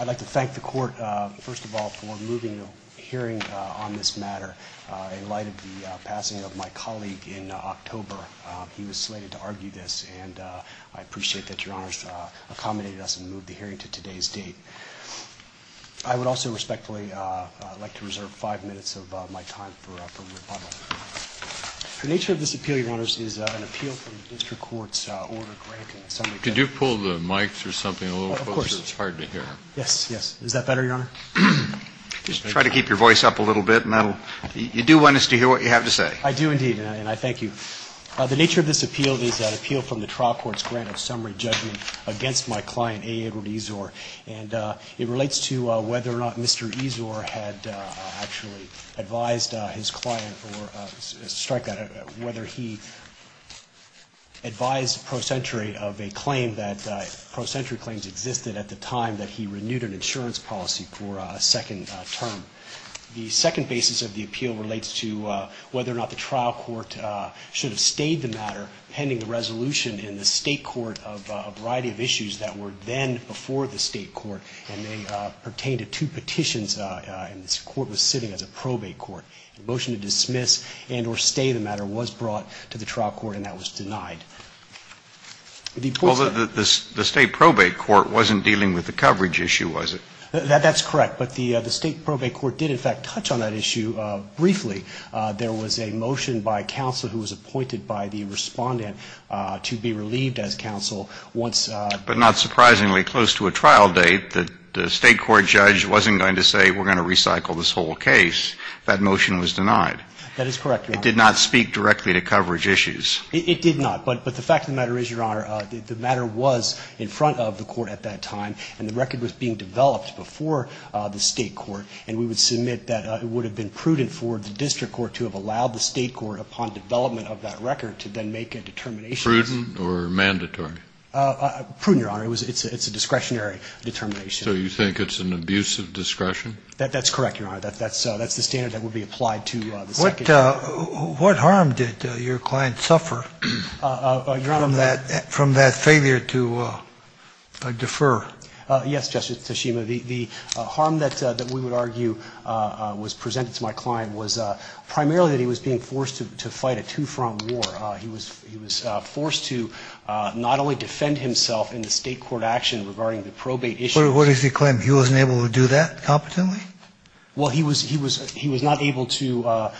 I'd like to thank the Court, first of all, for moving the hearing on this matter in light of the passing of my colleague in October. He was slated to argue this, and I appreciate that Your Honors accommodated us and moved the hearing to today's date. I would also respectfully like to reserve five minutes of my time for rebuttal. The nature of this appeal, Your Honors, is an appeal from the district court's order grant and summary judgment. Could you pull the mics or something a little closer? Of course. It's hard to hear. Yes, yes. Is that better, Your Honor? Try to keep your voice up a little bit. You do want us to hear what you have to say. I do, indeed, and I thank you. The nature of this appeal is an appeal from the trial court's grant of summary judgment against my client, A. Edward Ezor. And it relates to whether or not Mr. Ezor had actually advised his client, or strike that, whether he advised ProCentury of a claim that ProCentury claims existed at the time that he renewed an insurance policy for a second term. The second basis of the appeal relates to whether or not the trial court should have stayed the matter pending the resolution in the State court of a variety of issues that were then before the State court, and they pertain to two petitions, and this court was sitting as a probate court. The motion to dismiss and or stay the matter was brought to the trial court, and that was denied. The State probate court wasn't dealing with the coverage issue, was it? That's correct. But the State probate court did, in fact, touch on that issue briefly. There was a motion by counsel who was appointed by the respondent to be relieved as counsel. But not surprisingly, close to a trial date, the State court judge wasn't going to say we're going to recycle this whole case. That motion was denied. That is correct, Your Honor. It did not speak directly to coverage issues. It did not. But the fact of the matter is, Your Honor, the matter was in front of the court at that time, and the record was being developed before the State court, and we would submit that it would have been prudent for the district court to have allowed the State court, upon development of that record, to then make a determination. Prudent or mandatory? Prudent, Your Honor. It's a discretionary determination. So you think it's an abuse of discretion? That's correct, Your Honor. That's the standard that would be applied to the second case. What harm did your client suffer from that failure to defer? Yes, Justice Tashima. The harm that we would argue was presented to my client was primarily that he was being forced to fight a two-front war. He was forced to not only defend himself in the State court action regarding the probate issue. What is he claiming? He wasn't able to do that competently? Well, he was not able to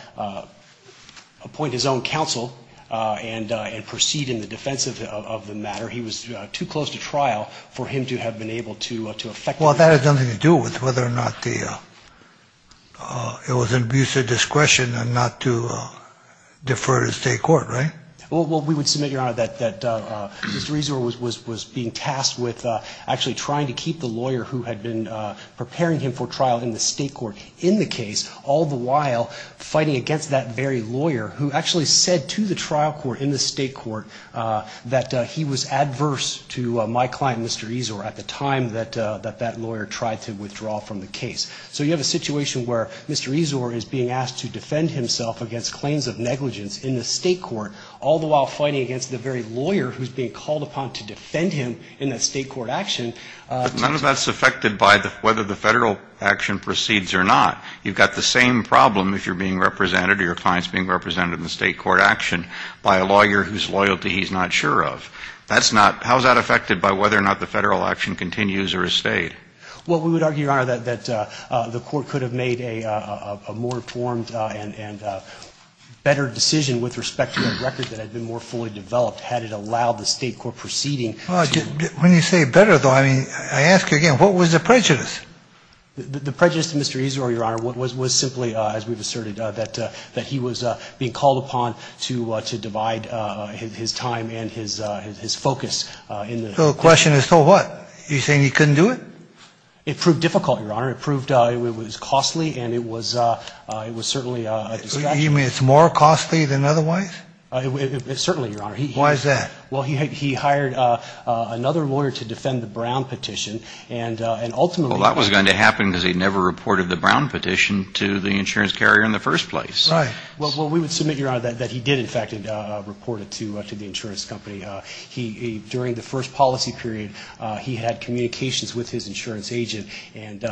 appoint his own counsel and proceed in the defense of the matter. He was too close to trial for him to have been able to effect it. Well, that has nothing to do with whether or not it was an abuse of discretion not to defer to the State court, right? Well, we would submit, Your Honor, that Mr. Ezor was being tasked with actually trying to keep the lawyer who had been preparing him for trial in the State court in the case, all the while fighting against that very lawyer who actually said to the trial court in the State court that he was adverse to my client, Mr. Ezor, at the time that that lawyer tried to withdraw from the case. So you have a situation where Mr. Ezor is being asked to defend himself against claims of negligence in the State court, all the while fighting against the very lawyer who's being called upon to defend him in that State court action. None of that's affected by whether the Federal action proceeds or not. You've got the same problem if you're being represented or your client's being represented in the State court action by a lawyer whose loyalty he's not sure of. That's not – how is that affected by whether or not the Federal action continues or is stayed? Well, we would argue, Your Honor, that the court could have made a more informed and better decision with respect to a record that had been more fully developed had it allowed the State court proceeding to – When you say better, though, I mean, I ask you again, what was the prejudice? The prejudice to Mr. Ezor, Your Honor, was simply, as we've asserted, that he was being called upon to divide his time and his focus in the – So the question is, so what? You're saying he couldn't do it? It proved difficult, Your Honor. It proved – it was costly and it was certainly a distraction. You mean it's more costly than otherwise? Certainly, Your Honor. Why is that? Well, he hired another lawyer to defend the Brown petition and ultimately – Well, that was going to happen because he never reported the Brown petition to the insurance carrier in the first place. Right. Well, we would submit, Your Honor, that he did, in fact, report it to the insurance company. During the first policy period, he had communications with his insurance agent and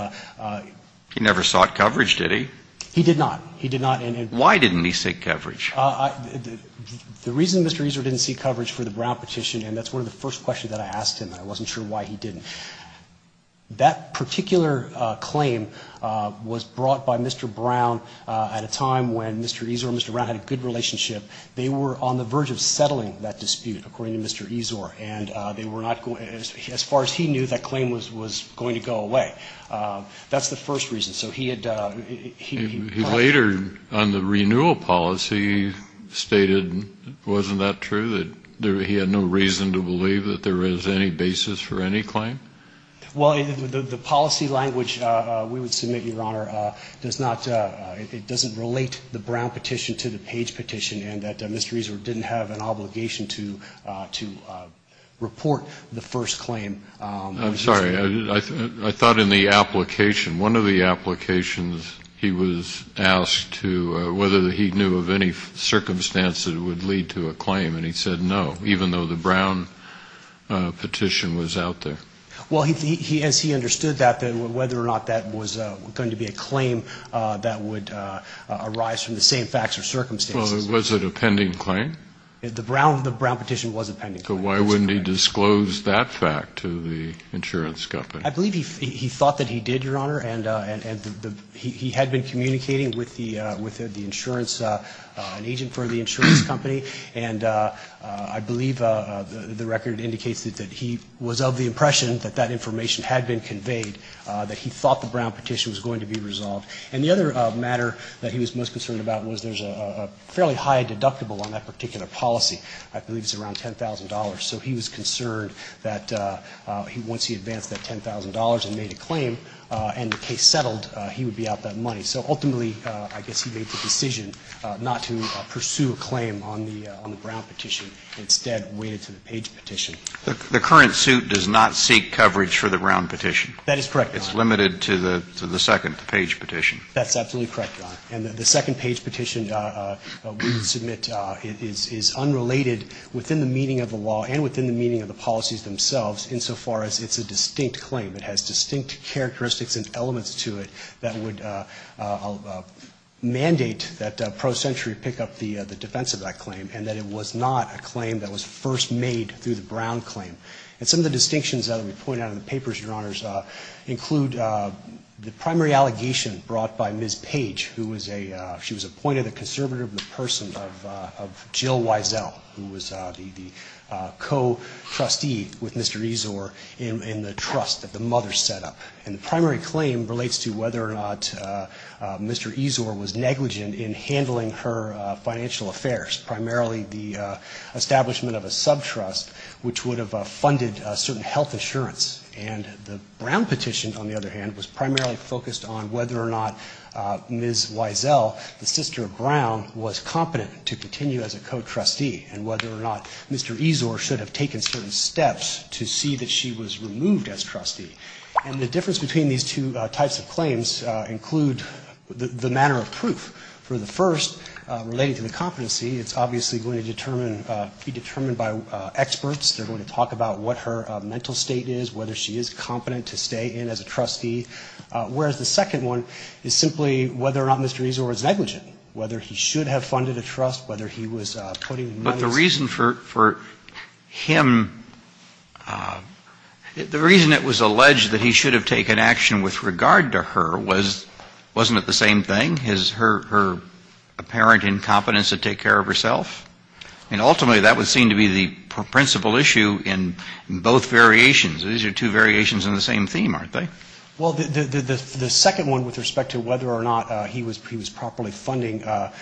– He never sought coverage, did he? He did not. He did not. Why didn't he seek coverage? The reason Mr. Ezor didn't seek coverage for the Brown petition, and that's one of the first questions that I asked him and I wasn't sure why he didn't, that particular claim was brought by Mr. Brown at a time when Mr. Ezor and Mr. Brown had a good relationship. They were on the verge of settling that dispute, according to Mr. Ezor, and they were not going – as far as he knew, that claim was going to go away. That's the first reason. So he had – He later, on the renewal policy, stated, wasn't that true, that he had no reason to believe that there is any basis for any claim? Well, the policy language we would submit, Your Honor, does not – and that Mr. Ezor didn't have an obligation to report the first claim. I'm sorry. I thought in the application, one of the applications, he was asked whether he knew of any circumstance that it would lead to a claim, and he said no, even though the Brown petition was out there. Well, as he understood that, whether or not that was going to be a claim that would arise from the same facts or circumstances. Well, was it a pending claim? The Brown petition was a pending claim. So why wouldn't he disclose that fact to the insurance company? I believe he thought that he did, Your Honor, and he had been communicating with the insurance – an agent for the insurance company, and I believe the record indicates that he was of the impression that that information had been conveyed, that he thought the Brown petition was going to be resolved. And the other matter that he was most concerned about was there's a fairly high deductible on that particular policy. I believe it's around $10,000. So he was concerned that once he advanced that $10,000 and made a claim and the case settled, he would be out that money. So ultimately, I guess he made the decision not to pursue a claim on the Brown petition and instead waited to the Page petition. The current suit does not seek coverage for the Brown petition. That is correct, Your Honor. It's limited to the second, the Page petition. That's absolutely correct, Your Honor. And the second Page petition we submit is unrelated within the meaning of the law and within the meaning of the policies themselves insofar as it's a distinct claim. It has distinct characteristics and elements to it that would mandate that Pro Century pick up the defense of that claim and that it was not a claim that was first made through the Brown claim. And some of the distinctions that we point out in the papers, Your Honors, include the primary allegation brought by Ms. Page, who was a, she was appointed a conservative person of Jill Wiesel, who was the co-trustee with Mr. Ezor in the trust that the mother set up. And the primary claim relates to whether or not Mr. Ezor was negligent in handling her financial affairs, primarily the establishment of a sub-trust, which would have funded certain health insurance. And the Brown petition, on the other hand, was primarily focused on whether or not Ms. Wiesel, the sister of Brown, was competent to continue as a co-trustee and whether or not Mr. Ezor should have taken certain steps to see that she was removed as trustee. And the difference between these two types of claims include the manner of proof. For the first, relating to the competency, it's obviously going to determine, be determined by experts. They're going to talk about what her mental state is, whether she is competent to stay in as a trustee. Whereas the second one is simply whether or not Mr. Ezor was negligent, whether he should have funded a trust, whether he was putting money. But the reason for him, the reason it was alleged that he should have taken action with regard to her was, wasn't it the same thing? Her apparent incompetence to take care of herself? And ultimately, that would seem to be the principal issue in both variations. These are two variations in the same theme, aren't they? Well, the second one with respect to whether or not he was properly funding a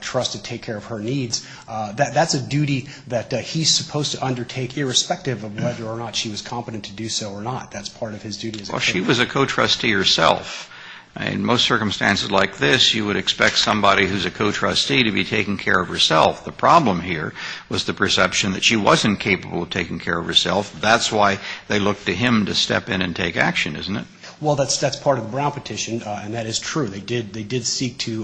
trust to take care of her needs, that's a duty that he's supposed to undertake, irrespective of whether or not she was competent to do so or not. That's part of his duty. Well, she was a co-trustee herself. In most circumstances like this, you would expect somebody who's a co-trustee to be taking care of herself. The problem here was the perception that she wasn't capable of taking care of herself. That's why they looked to him to step in and take action, isn't it? Well, that's part of the Brown petition, and that is true. They did seek to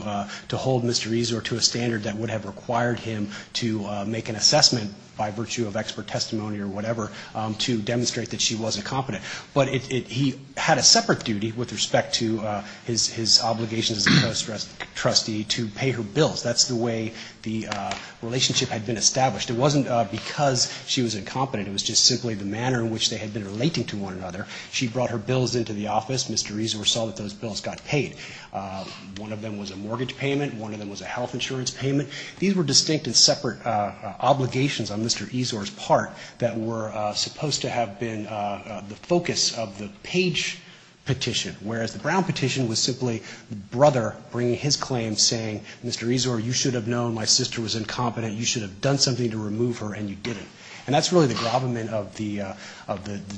hold Mr. Ezor to a standard that would have required him to make an assessment by virtue of expert testimony or whatever to demonstrate that she wasn't competent. But he had a separate duty with respect to his obligations as a co-trustee to pay her bills. That's the way the relationship had been established. It wasn't because she was incompetent. It was just simply the manner in which they had been relating to one another. She brought her bills into the office. Mr. Ezor saw that those bills got paid. One of them was a mortgage payment. One of them was a health insurance payment. These were distinct and separate obligations on Mr. Ezor's part that were supposed to have been the focus of the Page petition, whereas the Brown petition was simply his claim saying, Mr. Ezor, you should have known my sister was incompetent. You should have done something to remove her, and you didn't. And that's really the gravamen of the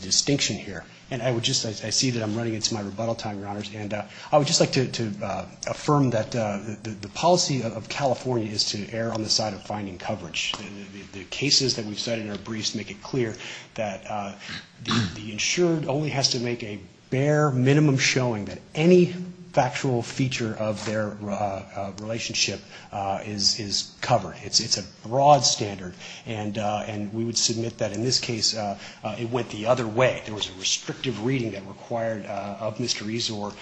distinction here. And I see that I'm running into my rebuttal time, Your Honors, and I would just like to affirm that the policy of California is to err on the side of finding coverage. The cases that we've cited in our briefs make it clear that the insured only has to make a bare minimum showing that any factual feature of their relationship is covered. It's a broad standard, and we would submit that in this case it went the other way. There was a restrictive reading that required of Mr. Ezor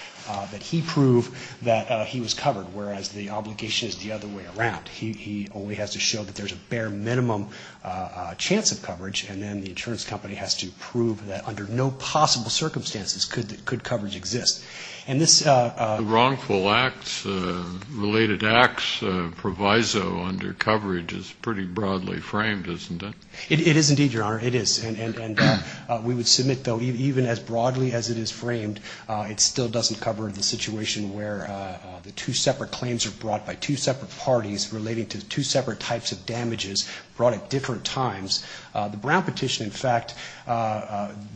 that he prove that he was covered, whereas the obligation is the other way around. He only has to show that there's a bare minimum chance of coverage, and then the insurance company has to prove that under no possible circumstances could coverage exist. And this ---- The wrongful acts, related acts, proviso under coverage is pretty broadly framed, isn't it? It is indeed, Your Honor. It is. And we would submit, though, even as broadly as it is framed, it still doesn't cover the situation where the two separate claims are brought by two separate parties relating to two separate types of damages brought at different times. The Brown petition, in fact,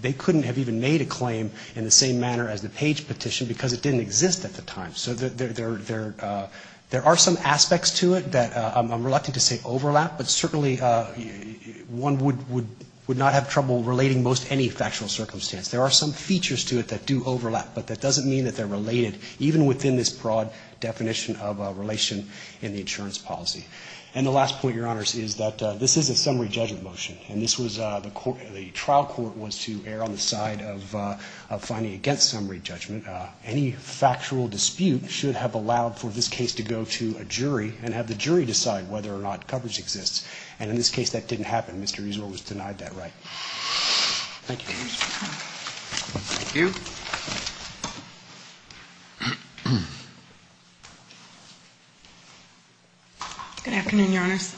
they couldn't have even made a claim in the same manner as the Page petition because it didn't exist at the time. So there are some aspects to it that I'm reluctant to say overlap, but certainly one would not have trouble relating most any factual circumstance. There are some features to it that do overlap, but that doesn't mean that they're related, even within this broad definition of a relation in the insurance policy. And the last point, Your Honors, is that this is a summary judgment motion, and this was the trial court was to err on the side of finding against summary judgment. Any factual dispute should have allowed for this case to go to a jury and have the jury decide whether or not coverage exists. And in this case, that didn't happen. Mr. Ezell was denied that right. Thank you. Thank you. Good afternoon, Your Honors.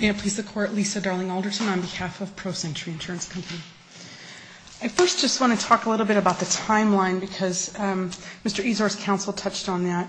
May it please the Court, Lisa Darling Alderson on behalf of Pro Century Insurance Company. I first just want to talk a little bit about the timeline because Mr. Ezell's counsel touched on that.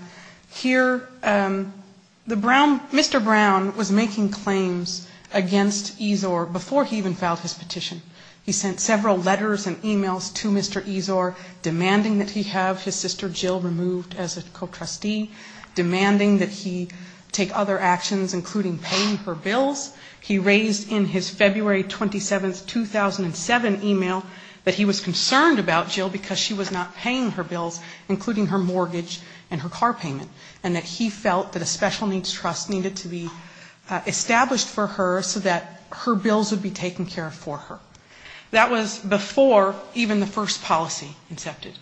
Here, Mr. Brown was making claims against Ezell before he even filed his petition. He sent several letters and e-mails to Mr. Ezell, demanding that he have his sister, Jill, removed as a co-trustee, demanding that he take other actions, including paying her bills. He raised in his February 27, 2007, e-mail that he was concerned about Jill because she was not paying her bills, including her mortgage and her car payment, and that he felt that a special needs trust needed to be established for her so that her bills would be taken care of for her. That was before even the first policy incepted.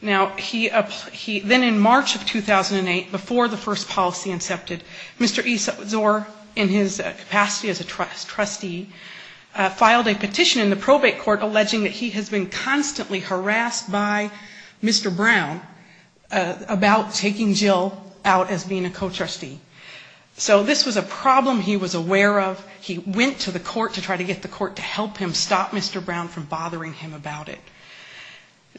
Now, then in March of 2008, before the first policy incepted, Mr. Ezell, in his capacity as a trustee, filed a petition in the probate court alleging that he has been constantly harassed by Mr. Brown about taking Jill out as being a co-trustee. So this was a problem he was aware of. He went to the court to try to get the court to help him stop Mr. Brown from bothering him about it.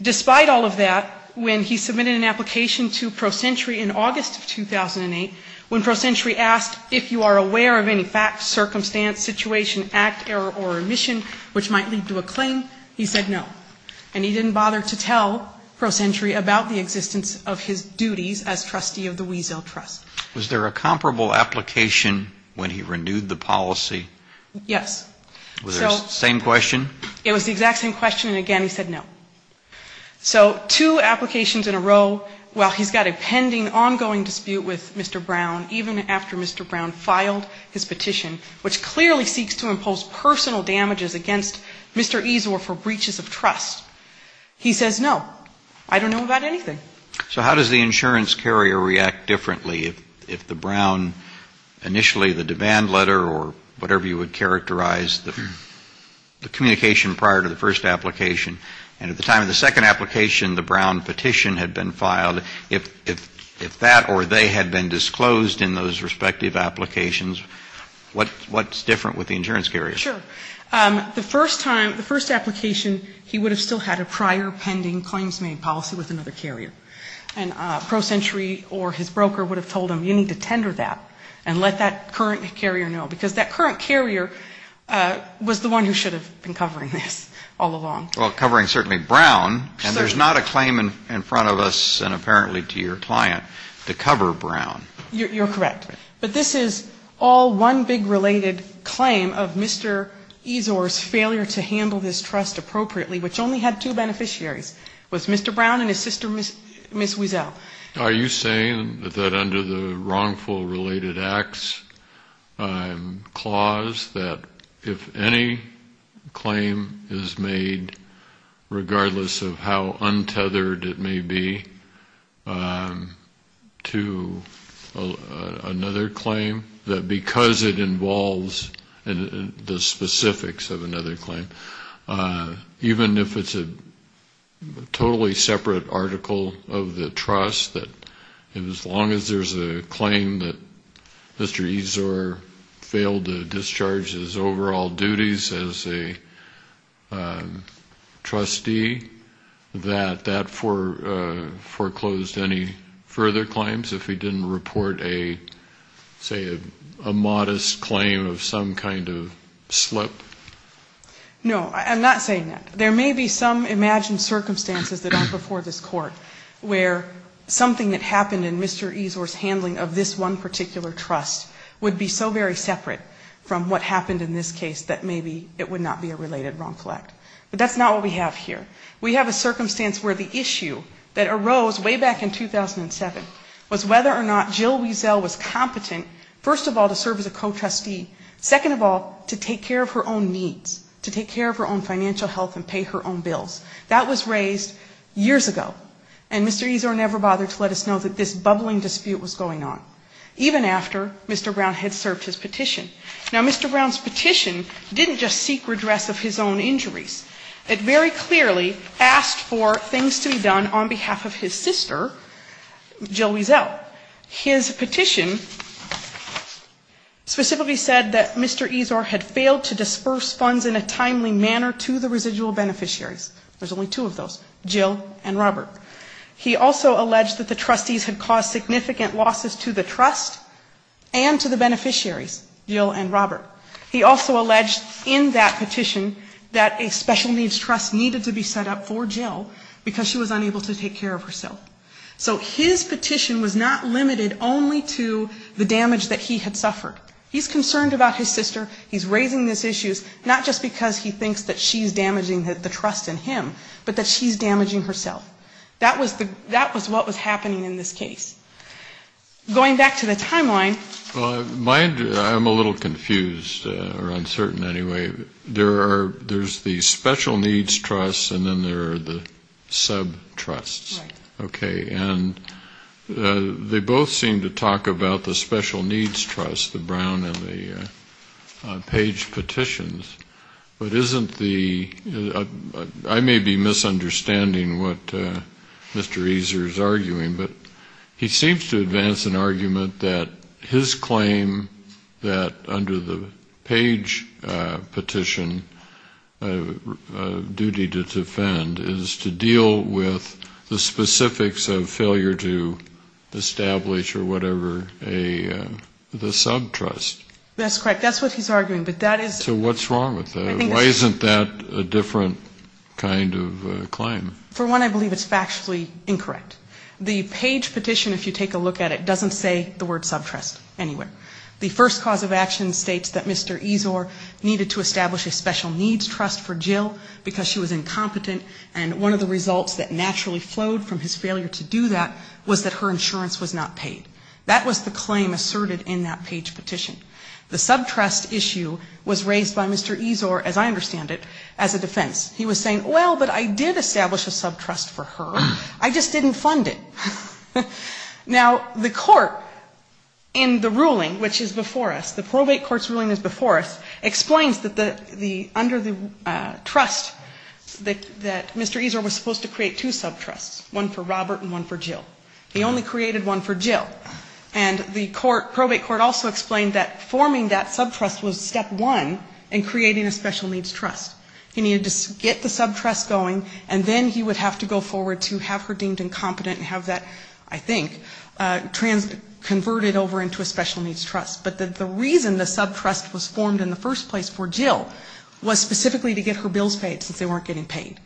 Despite all of that, when he submitted an application to ProCentury in August of 2008, when ProCentury asked if you are aware of any facts, circumstance, situation, act, error or omission, which might lead to a claim, he said no. And he didn't bother to tell ProCentury about the existence of his duties as trustee of the Ezell Trust. Was there a comparable application when he renewed the policy? Yes. Was there the same question? It was the exact same question, and again he said no. So two applications in a row, while he's got a pending, ongoing dispute with Mr. Brown, even after Mr. Brown filed his petition, which clearly seeks to impose personal damages against Mr. Ezell for breaches of trust. He says no. I don't know about anything. So how does the insurance carrier react differently if the Brown initially the demand letter or whatever you would characterize the communication prior to the first application, and at the time of the second application the Brown petition had been filed, if that or they had been disclosed in those respective applications, what's different with the insurance carrier? Sure. The first time, the first application, he would have still had a prior pending claims made policy with another carrier. And ProCentury or his broker would have told him you need to tender that and let that current carrier know, because that current carrier was the one who should have been covering this all along. Well, covering certainly Brown, and there's not a claim in front of us and apparently to your client to cover Brown. You're correct. But this is all one big related claim of Mr. Ezell's failure to handle this trust appropriately, which only had two beneficiaries. It was Mr. Brown and his sister, Ms. Ezell. Are you saying that under the wrongful related acts clause that if any claim is made, regardless of how untethered it may be to another claim, that because it involves the specifics of another claim, even if it's a totally separate article of the trust, that as long as there's a claim that Mr. Ezell failed to discharge his overall duties as a trustee, that that foreclosed any further claims if he didn't report a, say, a modest claim of some kind of slip? No, I'm not saying that. There may be some imagined circumstances that are before this Court where something that happened in Mr. Ezell's handling of this one particular trust would be so very separate from what happened in this case that maybe it would not be a related wrongful act. But that's not what we have here. We have a circumstance where the issue that arose way back in 2007 was whether or not Jill Ezell was competent, first of all, to serve as a co-trustee, second of all, to take care of her own needs, to take care of her own financial health and pay her own bills. That was raised years ago. And Mr. Ezell never bothered to let us know that this bubbling dispute was going on. Even after Mr. Brown had served his petition. Now, Mr. Brown's petition didn't just seek redress of his own injuries. It very clearly asked for things to be done on behalf of his sister, Jill Ezell. His petition specifically said that Mr. Ezell had failed to disperse funds in a timely manner to the residual beneficiaries. There's only two of those, Jill and Robert. He also alleged that the trustees had caused significant losses to the trust and to the beneficiaries, Jill and Robert. He also alleged in that petition that a special needs trust needed to be set up for Jill because she was unable to take care of herself. So his petition was not limited only to the damage that he had suffered. He's concerned about his sister. He's raising these issues not just because he thinks that she's damaging the trust in him, but that she's damaging herself. That was what was happening in this case. Going back to the timeline. Well, I'm a little confused or uncertain anyway. There's the special needs trust and then there are the sub trusts. Right. Okay. And they both seem to talk about the special needs trust, the Brown and the Page petitions. But isn't the, I may be misunderstanding what Mr. Ezer is arguing, but he seems to advance an argument that his claim that under the Page petition duty to defend is to deal with the specifics of failure to establish or whatever the sub trust. That's correct. That's what he's arguing. So what's wrong with that? Why isn't that a different kind of claim? For one, I believe it's factually incorrect. The Page petition, if you take a look at it, doesn't say the word sub trust anywhere. The first cause of action states that Mr. Ezer needed to establish a special needs trust for Jill because she was incompetent and one of the results that naturally flowed from his failure to do that was that her insurance was not paid. That was the claim asserted in that Page petition. The sub trust issue was raised by Mr. Ezer, as I understand it, as a defense. He was saying, well, but I did establish a sub trust for her. I just didn't fund it. Now, the court in the ruling, which is before us, the probate court's ruling is before us, explains that under the trust that Mr. Ezer was supposed to create two sub trusts, one for Robert and one for Jill. He only created one for Jill. And the probate court also explained that forming that sub trust was step one in creating a special needs trust. He needed to get the sub trust going and then he would have to go forward to have her deemed incompetent and have that, I think, converted over into a special needs trust. But the reason the sub trust was formed in the first place for Jill was specifically to get her bills paid since they weren't getting paid.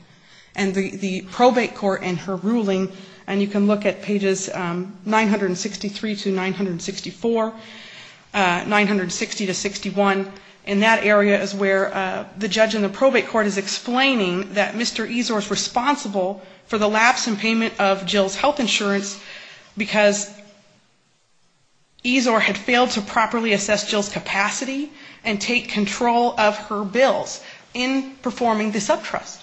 And the probate court in her ruling, and you can look at pages 963 to 964, 960 to 61, in that area is where the judge in the probate court is explaining that Mr. Ezer is responsible for the lapse in payment of Jill's health insurance because Ezer had failed to properly assess Jill's capacity and take control of her bills in performing the sub trust.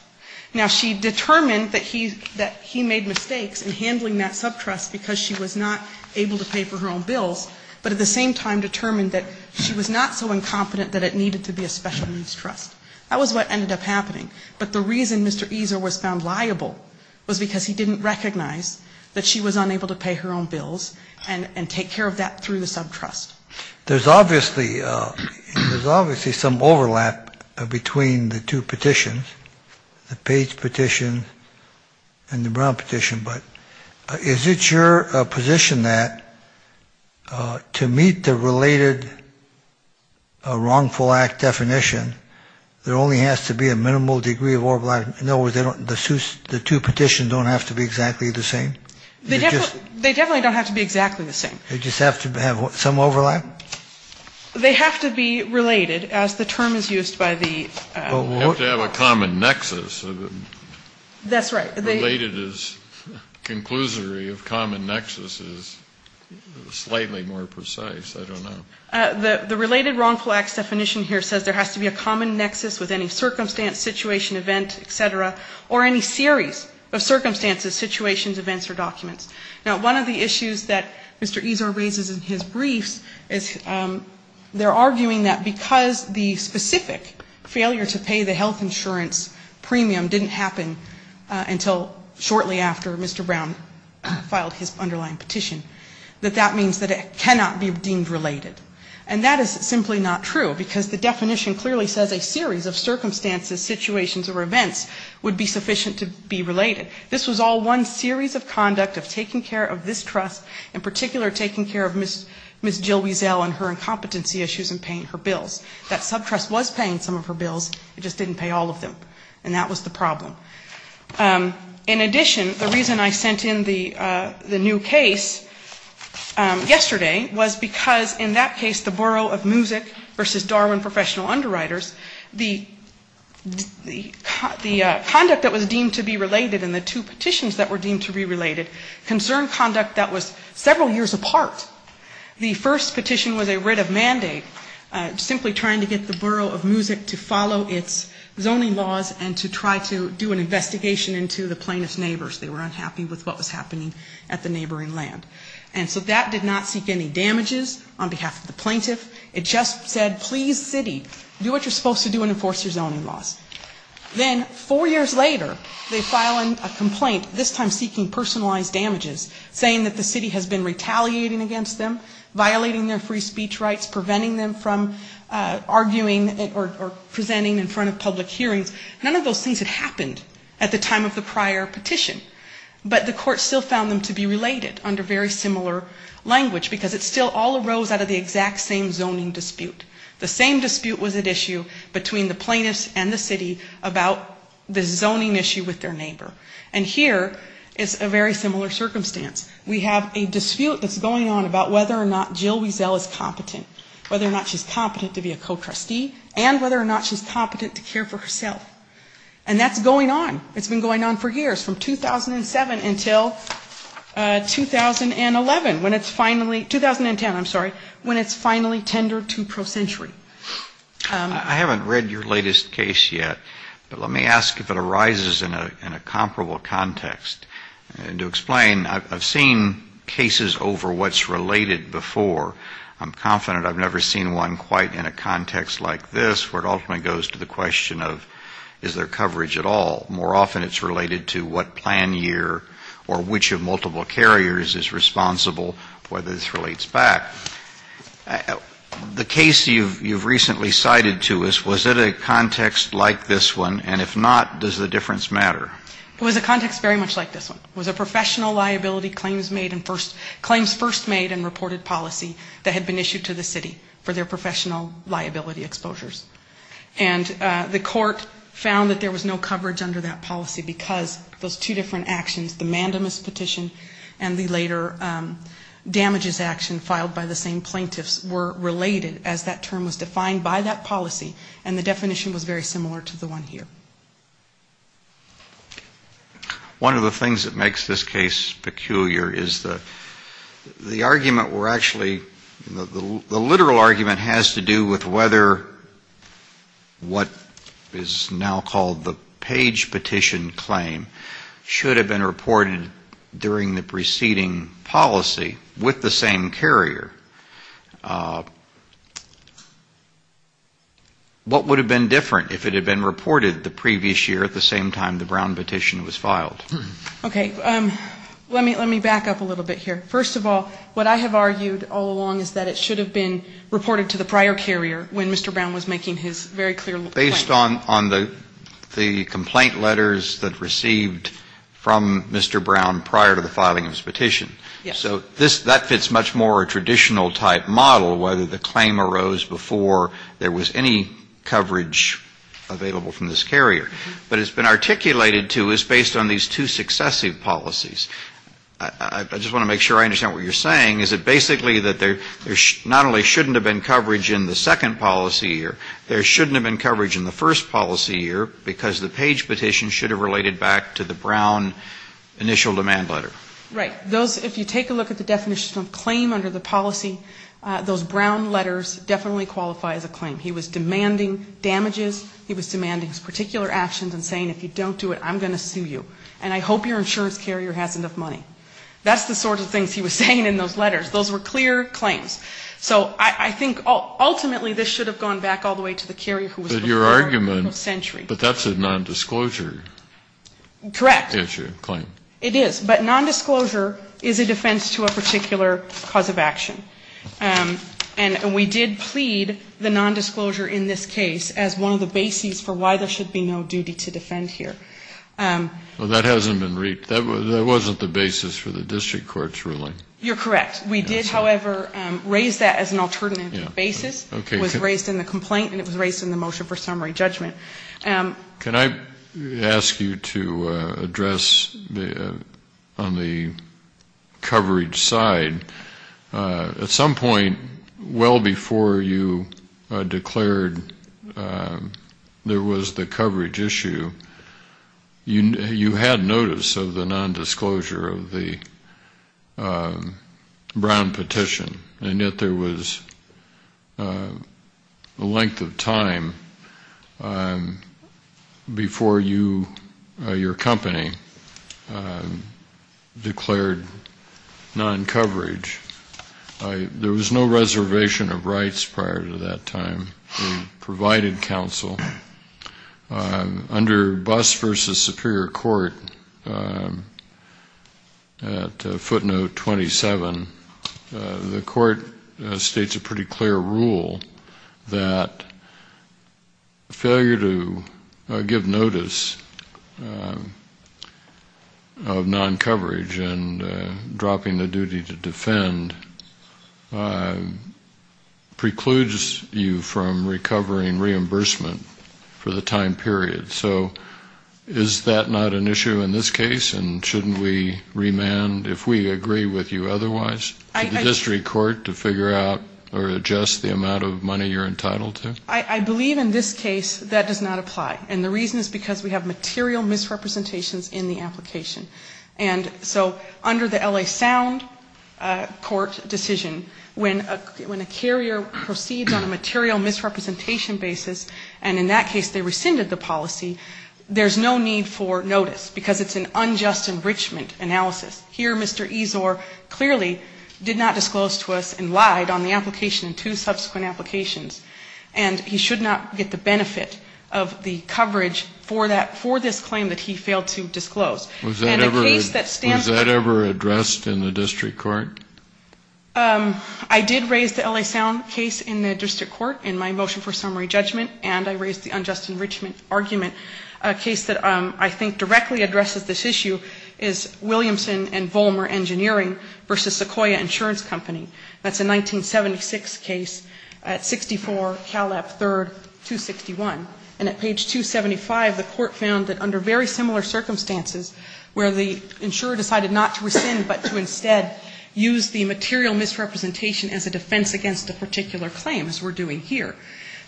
Now, she determined that he made mistakes in handling that sub trust because she was not able to pay for her own bills, but at the same time determined that she was not so incompetent that it needed to be a special needs trust. That was what ended up happening. But the reason Mr. Ezer was found liable was because he didn't recognize that she was unable to pay her own bills and take care of that through the sub trust. There's obviously some overlap between the two petitions, the Page petition and the Brown petition, but is it your position that to meet the related wrongful act definition, there only has to be a minimal degree of overlap? In other words, the two petitions don't have to be exactly the same? They definitely don't have to be exactly the same. They just have to have some overlap? They have to be related, as the term is used by the... They have to have a common nexus. That's right. Related as a conclusory of common nexus is slightly more precise. I don't know. The related wrongful act definition here says there has to be a common nexus with any circumstance, situation, event, et cetera, or any series of circumstances, situations, events, or documents. Now, one of the issues that Mr. Ezar raises in his briefs is they're arguing that because the specific failure to pay the health insurance premium didn't happen until shortly after Mr. Brown filed his underlying petition, that that means that it cannot be deemed related. And that is simply not true because the definition clearly says a series of circumstances, situations, or events would be sufficient to be related. This was all one series of conduct of taking care of this trust, in particular taking care of Ms. Jill Wiesel and her incompetency issues and paying her bills. That subtrust was paying some of her bills. It just didn't pay all of them. And that was the problem. In addition, the reason I sent in the new case yesterday was because in that case, versus Darwin Professional Underwriters, the conduct that was deemed to be related and the two petitions that were deemed to be related concerned conduct that was several years apart. The first petition was a writ of mandate, simply trying to get the Borough of Muzik to follow its zoning laws and to try to do an investigation into the plaintiff's neighbors. They were unhappy with what was happening at the neighboring land. And so that did not seek any damages on behalf of the plaintiff. It just said, please, city, do what you're supposed to do and enforce your zoning laws. Then four years later, they file a complaint, this time seeking personalized damages, saying that the city has been retaliating against them, violating their free speech rights, preventing them from arguing or presenting in front of public hearings. None of those things had happened at the time of the prior petition. But the court still found them to be related under very similar language, because it still all arose out of the exact same zoning dispute. The same dispute was at issue between the plaintiffs and the city about the zoning issue with their neighbor. And here is a very similar circumstance. We have a dispute that's going on about whether or not Jill Wiesel is competent, whether or not she's competent to be a co-trustee, and whether or not she's competent to care for herself. And that's going on. It's been going on for years, from 2007 until 2011, when it's finally, 2010, I'm sorry, when it's finally tendered to pro-century. I haven't read your latest case yet, but let me ask if it arises in a comparable context. And to explain, I've seen cases over what's related before. I'm confident I've never seen one quite in a context like this, where it ultimately goes to the question of is there coverage at all. More often it's related to what plan year or which of multiple carriers is responsible, whether this relates back. The case you've recently cited to us, was it a context like this one? And if not, does the difference matter? It was a context very much like this one. It was a professional liability claims first made and reported policy that had been issued to the city for their professional liability exposures. And the court found that there was no coverage under that policy, because those two different actions, the mandamus petition and the later damages action filed by the same plaintiffs, were related, as that term was defined by that policy, and the definition was very similar to the one here. One of the things that makes this case peculiar is the argument were actually, the literal argument has to do with whether what is now called the page petition claim should have been reported during the preceding policy with the same carrier. What would have been different if it had been reported the previous year at the same time the Brown petition was filed? Okay. Let me back up a little bit here. First of all, what I have argued all along is that it should have been reported to the prior carrier when Mr. Brown was making his very clear complaint. Based on the complaint letters that received from Mr. Brown prior to the filing of his petition. So that fits much more a traditional type model, whether the claim arose before there was any coverage available from this carrier. But it's been articulated to us based on these two successive policies. I just want to make sure I understand what you're saying. Is it basically that there not only shouldn't have been coverage in the second policy year, there shouldn't have been coverage in the first policy year, because the page petition should have related back to the Brown initial demand letter? Right. Those, if you take a look at the definition of claim under the policy, those Brown letters definitely qualify as a claim. He was demanding damages. He was demanding his particular actions and saying, if you don't do it, I'm going to sue you. And I hope your insurance carrier has enough money. That's the sort of things he was saying in those letters. Those were clear claims. So I think ultimately this should have gone back all the way to the carrier who was the prior century. But your argument, but that's a nondisclosure issue, claim. It is. But nondisclosure is a defense to a particular cause of action. And we did plead the nondisclosure in this case as one of the bases for why there should be no duty to defend here. Well, that hasn't been reached. That wasn't the basis for the district court's ruling. You're correct. We did, however, raise that as an alternative basis. It was raised in the complaint and it was raised in the motion for summary judgment. Can I ask you to address on the coverage side? At some point, well before you declared there was the coverage issue, you had notice of the nondisclosure of the Brown petition. And yet there was a length of time in which the Brown petition had not been heard. Before you, your company, declared non-coverage, there was no reservation of rights prior to that time. We provided counsel. Under Buss v. Superior Court at footnote 27, the court states a pretty clear rule that failure to support the duty to give notice of non-coverage and dropping the duty to defend precludes you from recovering reimbursement for the time period. So is that not an issue in this case? And shouldn't we remand, if we agree with you otherwise, to the district court to figure out or adjust the amount of money you're entitled to? I believe in this case that does not apply. And the reason is because we have material misrepresentations in the application. And so under the L.A. Sound court decision, when a carrier proceeds on a material misrepresentation basis, and in that case they rescinded the policy, there's no need for notice, because it's an unjust enrichment analysis. Here Mr. Ezor clearly did not disclose to us and lied on the application and two subsequent applications. And he should not get the benefit of the coverage for this claim that he failed to disclose. Was that ever addressed in the district court? I did raise the L.A. Sound case in the district court in my motion for summary judgment, and I raised the unjust enrichment argument. A case that I think directly addresses this issue is Williamson and Vollmer Engineering v. Sequoia Insurance Company. That's a 1976 case at 64 Calab III, 261. And at page 275, the court found that under very similar circumstances where the insurer decided not to rescind but to instead use the material misrepresentation as a defense against a particular claim, as we're doing here,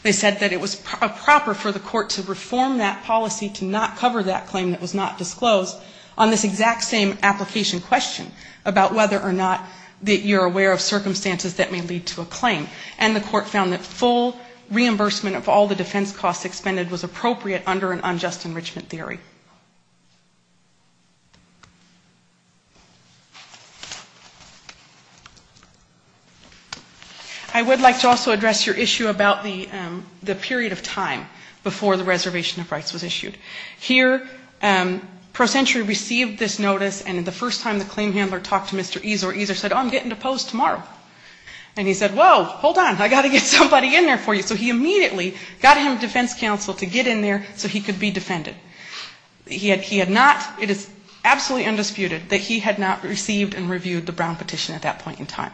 they said that it was proper for the court to reform that policy to not cover that claim that was not disclosed on this exact same application question about whether or not that you're aware of certain circumstances that may lead to a claim. And the court found that full reimbursement of all the defense costs expended was appropriate under an unjust enrichment theory. I would like to also address your issue about the period of time before the reservation of rights was issued. Here, procentuary received this notice, and the first time the claim handler talked to Mr. Ezor, Ezor said, oh, I'm getting deposed tomorrow. And he said, whoa, hold on, I got to get somebody in there for you. So he immediately got him defense counsel to get in there so he could be defended. He had not, it is absolutely undisputed that he had not received and reviewed the Brown petition at that point in time.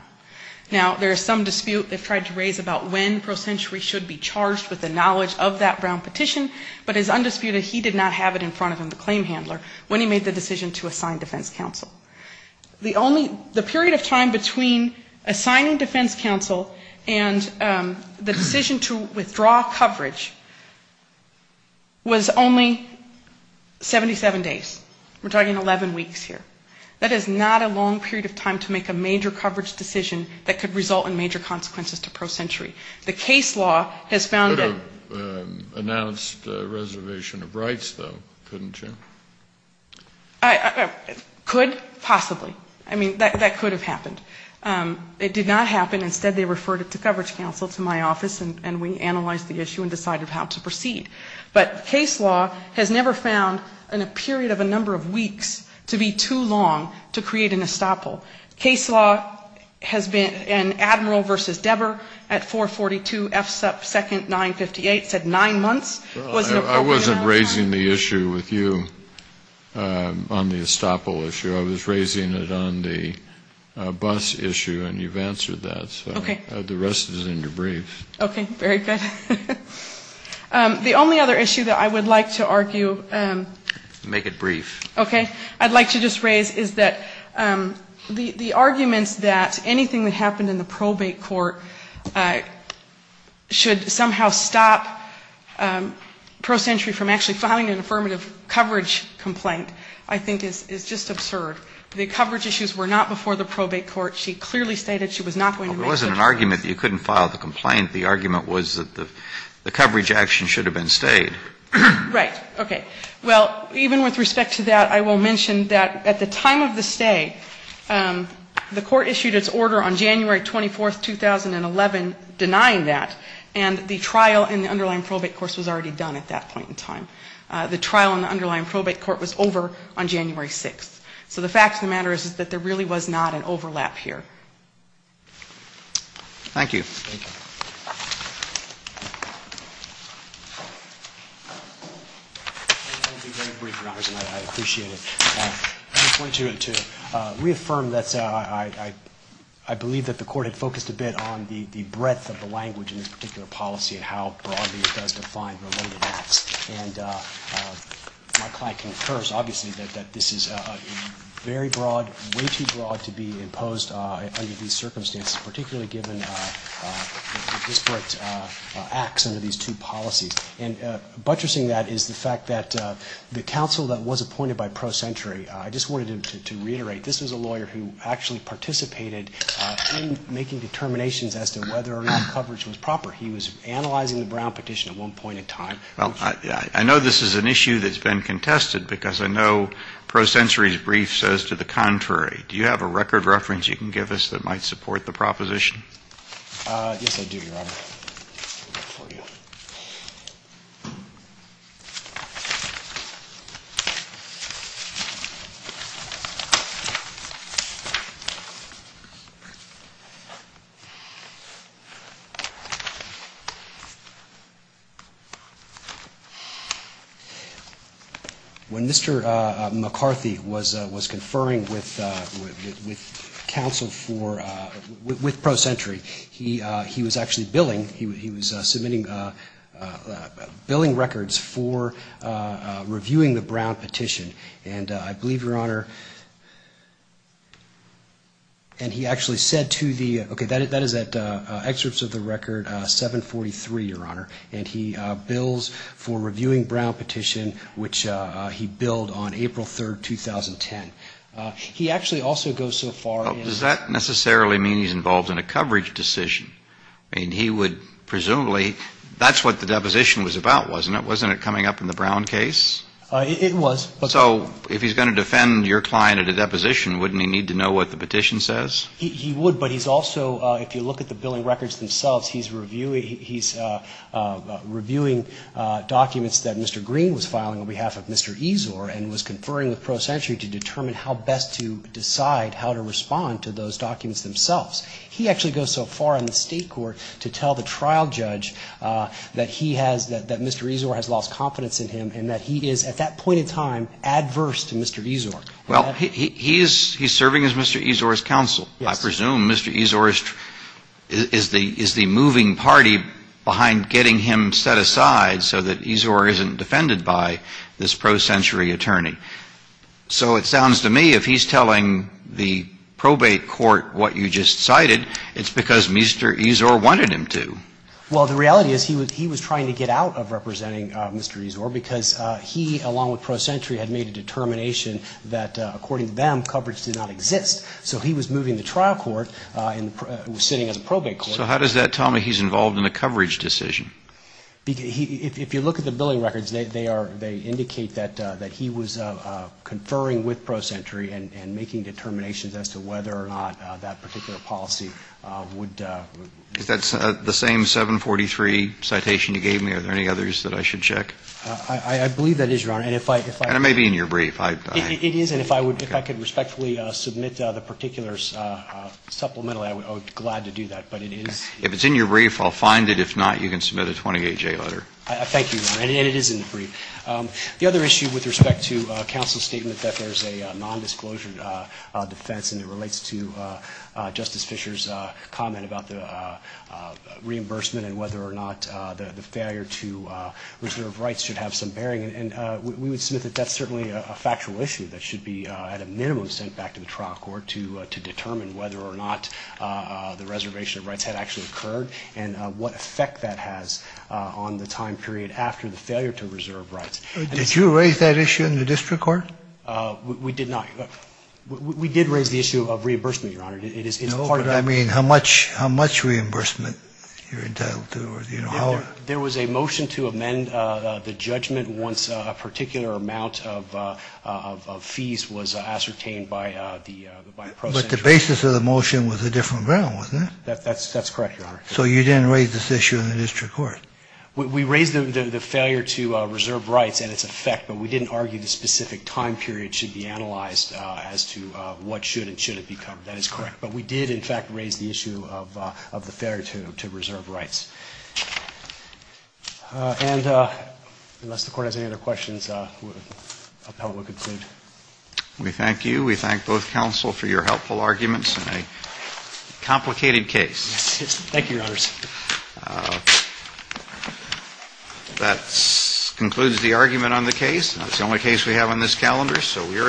Now, there is some dispute they've tried to raise about when procentuary should be charged with the knowledge of that Brown petition, but it's undisputed he did not have it in front of him, the claim handler, when he made the decision to assign defense counsel. The only, the period of time between assigning defense counsel and the decision to withdraw coverage was only 77 days. We're talking 11 weeks here. That is not a long period of time to make a major coverage decision that could result in major consequences to procentuary. The case law has found that... Possibly. I mean, that could have happened. It did not happen. Instead, they referred it to coverage counsel, to my office, and we analyzed the issue and decided how to proceed. But case law has never found in a period of a number of weeks to be too long to create an estoppel. Case law has been, and Admiral v. Debor at 442 F. Second 958 said nine months was an appropriate amount. I was raising it on the bus issue, and you've answered that. So the rest is in debrief. Okay. Very good. The only other issue that I would like to argue... Make it brief. Okay. I'd like to just raise is that the arguments that anything that happened in the probate court should somehow stop procentuary from actually filing an affirmative coverage complaint I think is just absurd. The coverage issues were not before the probate court. She clearly stated she was not going to make... Well, there wasn't an argument that you couldn't file the complaint. The argument was that the coverage action should have been stayed. Right. Okay. Well, even with respect to that, I will mention that at the time of the stay, the court issued its order on January 24, 2011 denying that, and the trial in the underlying probate court was already done at that point in time. The trial in the underlying probate court was over on January 6. So the fact of the matter is that there really was not an overlap here. Thank you. Thank you. I'm going to be very brief, Your Honors, and I appreciate it. I just want to reaffirm that I believe that the court had focused a bit on the breadth of the language in this particular policy and how broadly it does define the limited acts. And my client concurs, obviously, that this is very broad, way too broad to be imposed under these circumstances, particularly given the disparate acts under these two policies. And buttressing that is the fact that the counsel that was appointed by Procentury, I just wanted to reiterate, this was a lawyer who actually participated in making determinations as to whether or not coverage was proper. He was analyzing the Brown petition at one point in time. Well, I know this is an issue that's been contested because I know Procentury's brief says to the contrary. Do you have a record reference you can give us that might support the proposition? Yes, I do, Your Honor. When Mr. McCarthy was conferring with counsel for, with Procentury, he was actually billing. He was submitting, billing records for reviewing the Brown petition. And I believe, Your Honor, and he actually said to the, okay, that is at excerpts of the record 743, Your Honor, and he bills for reviewing Brown petition, which he billed on April 3, 2010. He actually also goes so far as to... Presumably, that's what the deposition was about, wasn't it? Wasn't it coming up in the Brown case? It was. So if he's going to defend your client at a deposition, wouldn't he need to know what the petition says? He would, but he's also, if you look at the billing records themselves, he's reviewing documents that Mr. Green was filing on behalf of Mr. Green, which is a child judge, that he has, that Mr. Esor has lost confidence in him and that he is, at that point in time, adverse to Mr. Esor. Well, he is serving as Mr. Esor's counsel. I presume Mr. Esor is the moving party behind getting him set aside so that Esor isn't defended by this Procentury attorney. So it sounds to me if he's telling the probate court what you just cited, it's because Mr. Esor wanted him to. Well, the reality is he was trying to get out of representing Mr. Esor because he, along with Procentury, had made a determination that, according to them, coverage did not exist. So he was moving the trial court and was sitting as a probate court. So how does that tell me he's involved in the coverage decision? If you look at the billing records, they indicate that he was conferring with Procentury and making determinations as to whether or not that particular policy would... Is that the same 743 citation you gave me? Are there any others that I should check? I believe that is, Your Honor, and if I... And it may be in your brief. It is, and if I could respectfully submit the particulars supplementarily, I would be glad to do that, but it is... If it's in your brief, I'll find it. If not, you can submit a 28-J letter. Thank you, Your Honor, and it is in the brief. The other issue with respect to counsel's statement that there's a nondisclosure defense and it relates to Justice Fischer's comment about the reimbursement and whether or not the failure to reserve rights should have some bearing. And we would submit that that's certainly a factual issue that should be, at a minimum, sent back to the trial court to determine whether or not the reservation of rights had actually occurred and what effect that has on the time period after the failure to reserve rights. Did you raise that issue in the district court? We did not. We did raise the issue of reimbursement, Your Honor. No, but I mean how much reimbursement you're entitled to. There was a motion to amend the judgment once a particular amount of fees was ascertained by Procentury. But the basis of the motion was a different realm, wasn't it? That's correct, Your Honor. So you didn't raise this issue in the district court? We raised the failure to reserve rights and its effect, but we didn't argue the specific time period should be analyzed as to what should and shouldn't become. That is correct. But we did, in fact, raise the issue of the failure to reserve rights. And unless the Court has any other questions, Appell will conclude. We thank you. We thank both counsel for your helpful arguments in a complicated case. Thank you, Your Honors. That concludes the argument on the case. That's the only case we have on this calendar, so we are adjourned.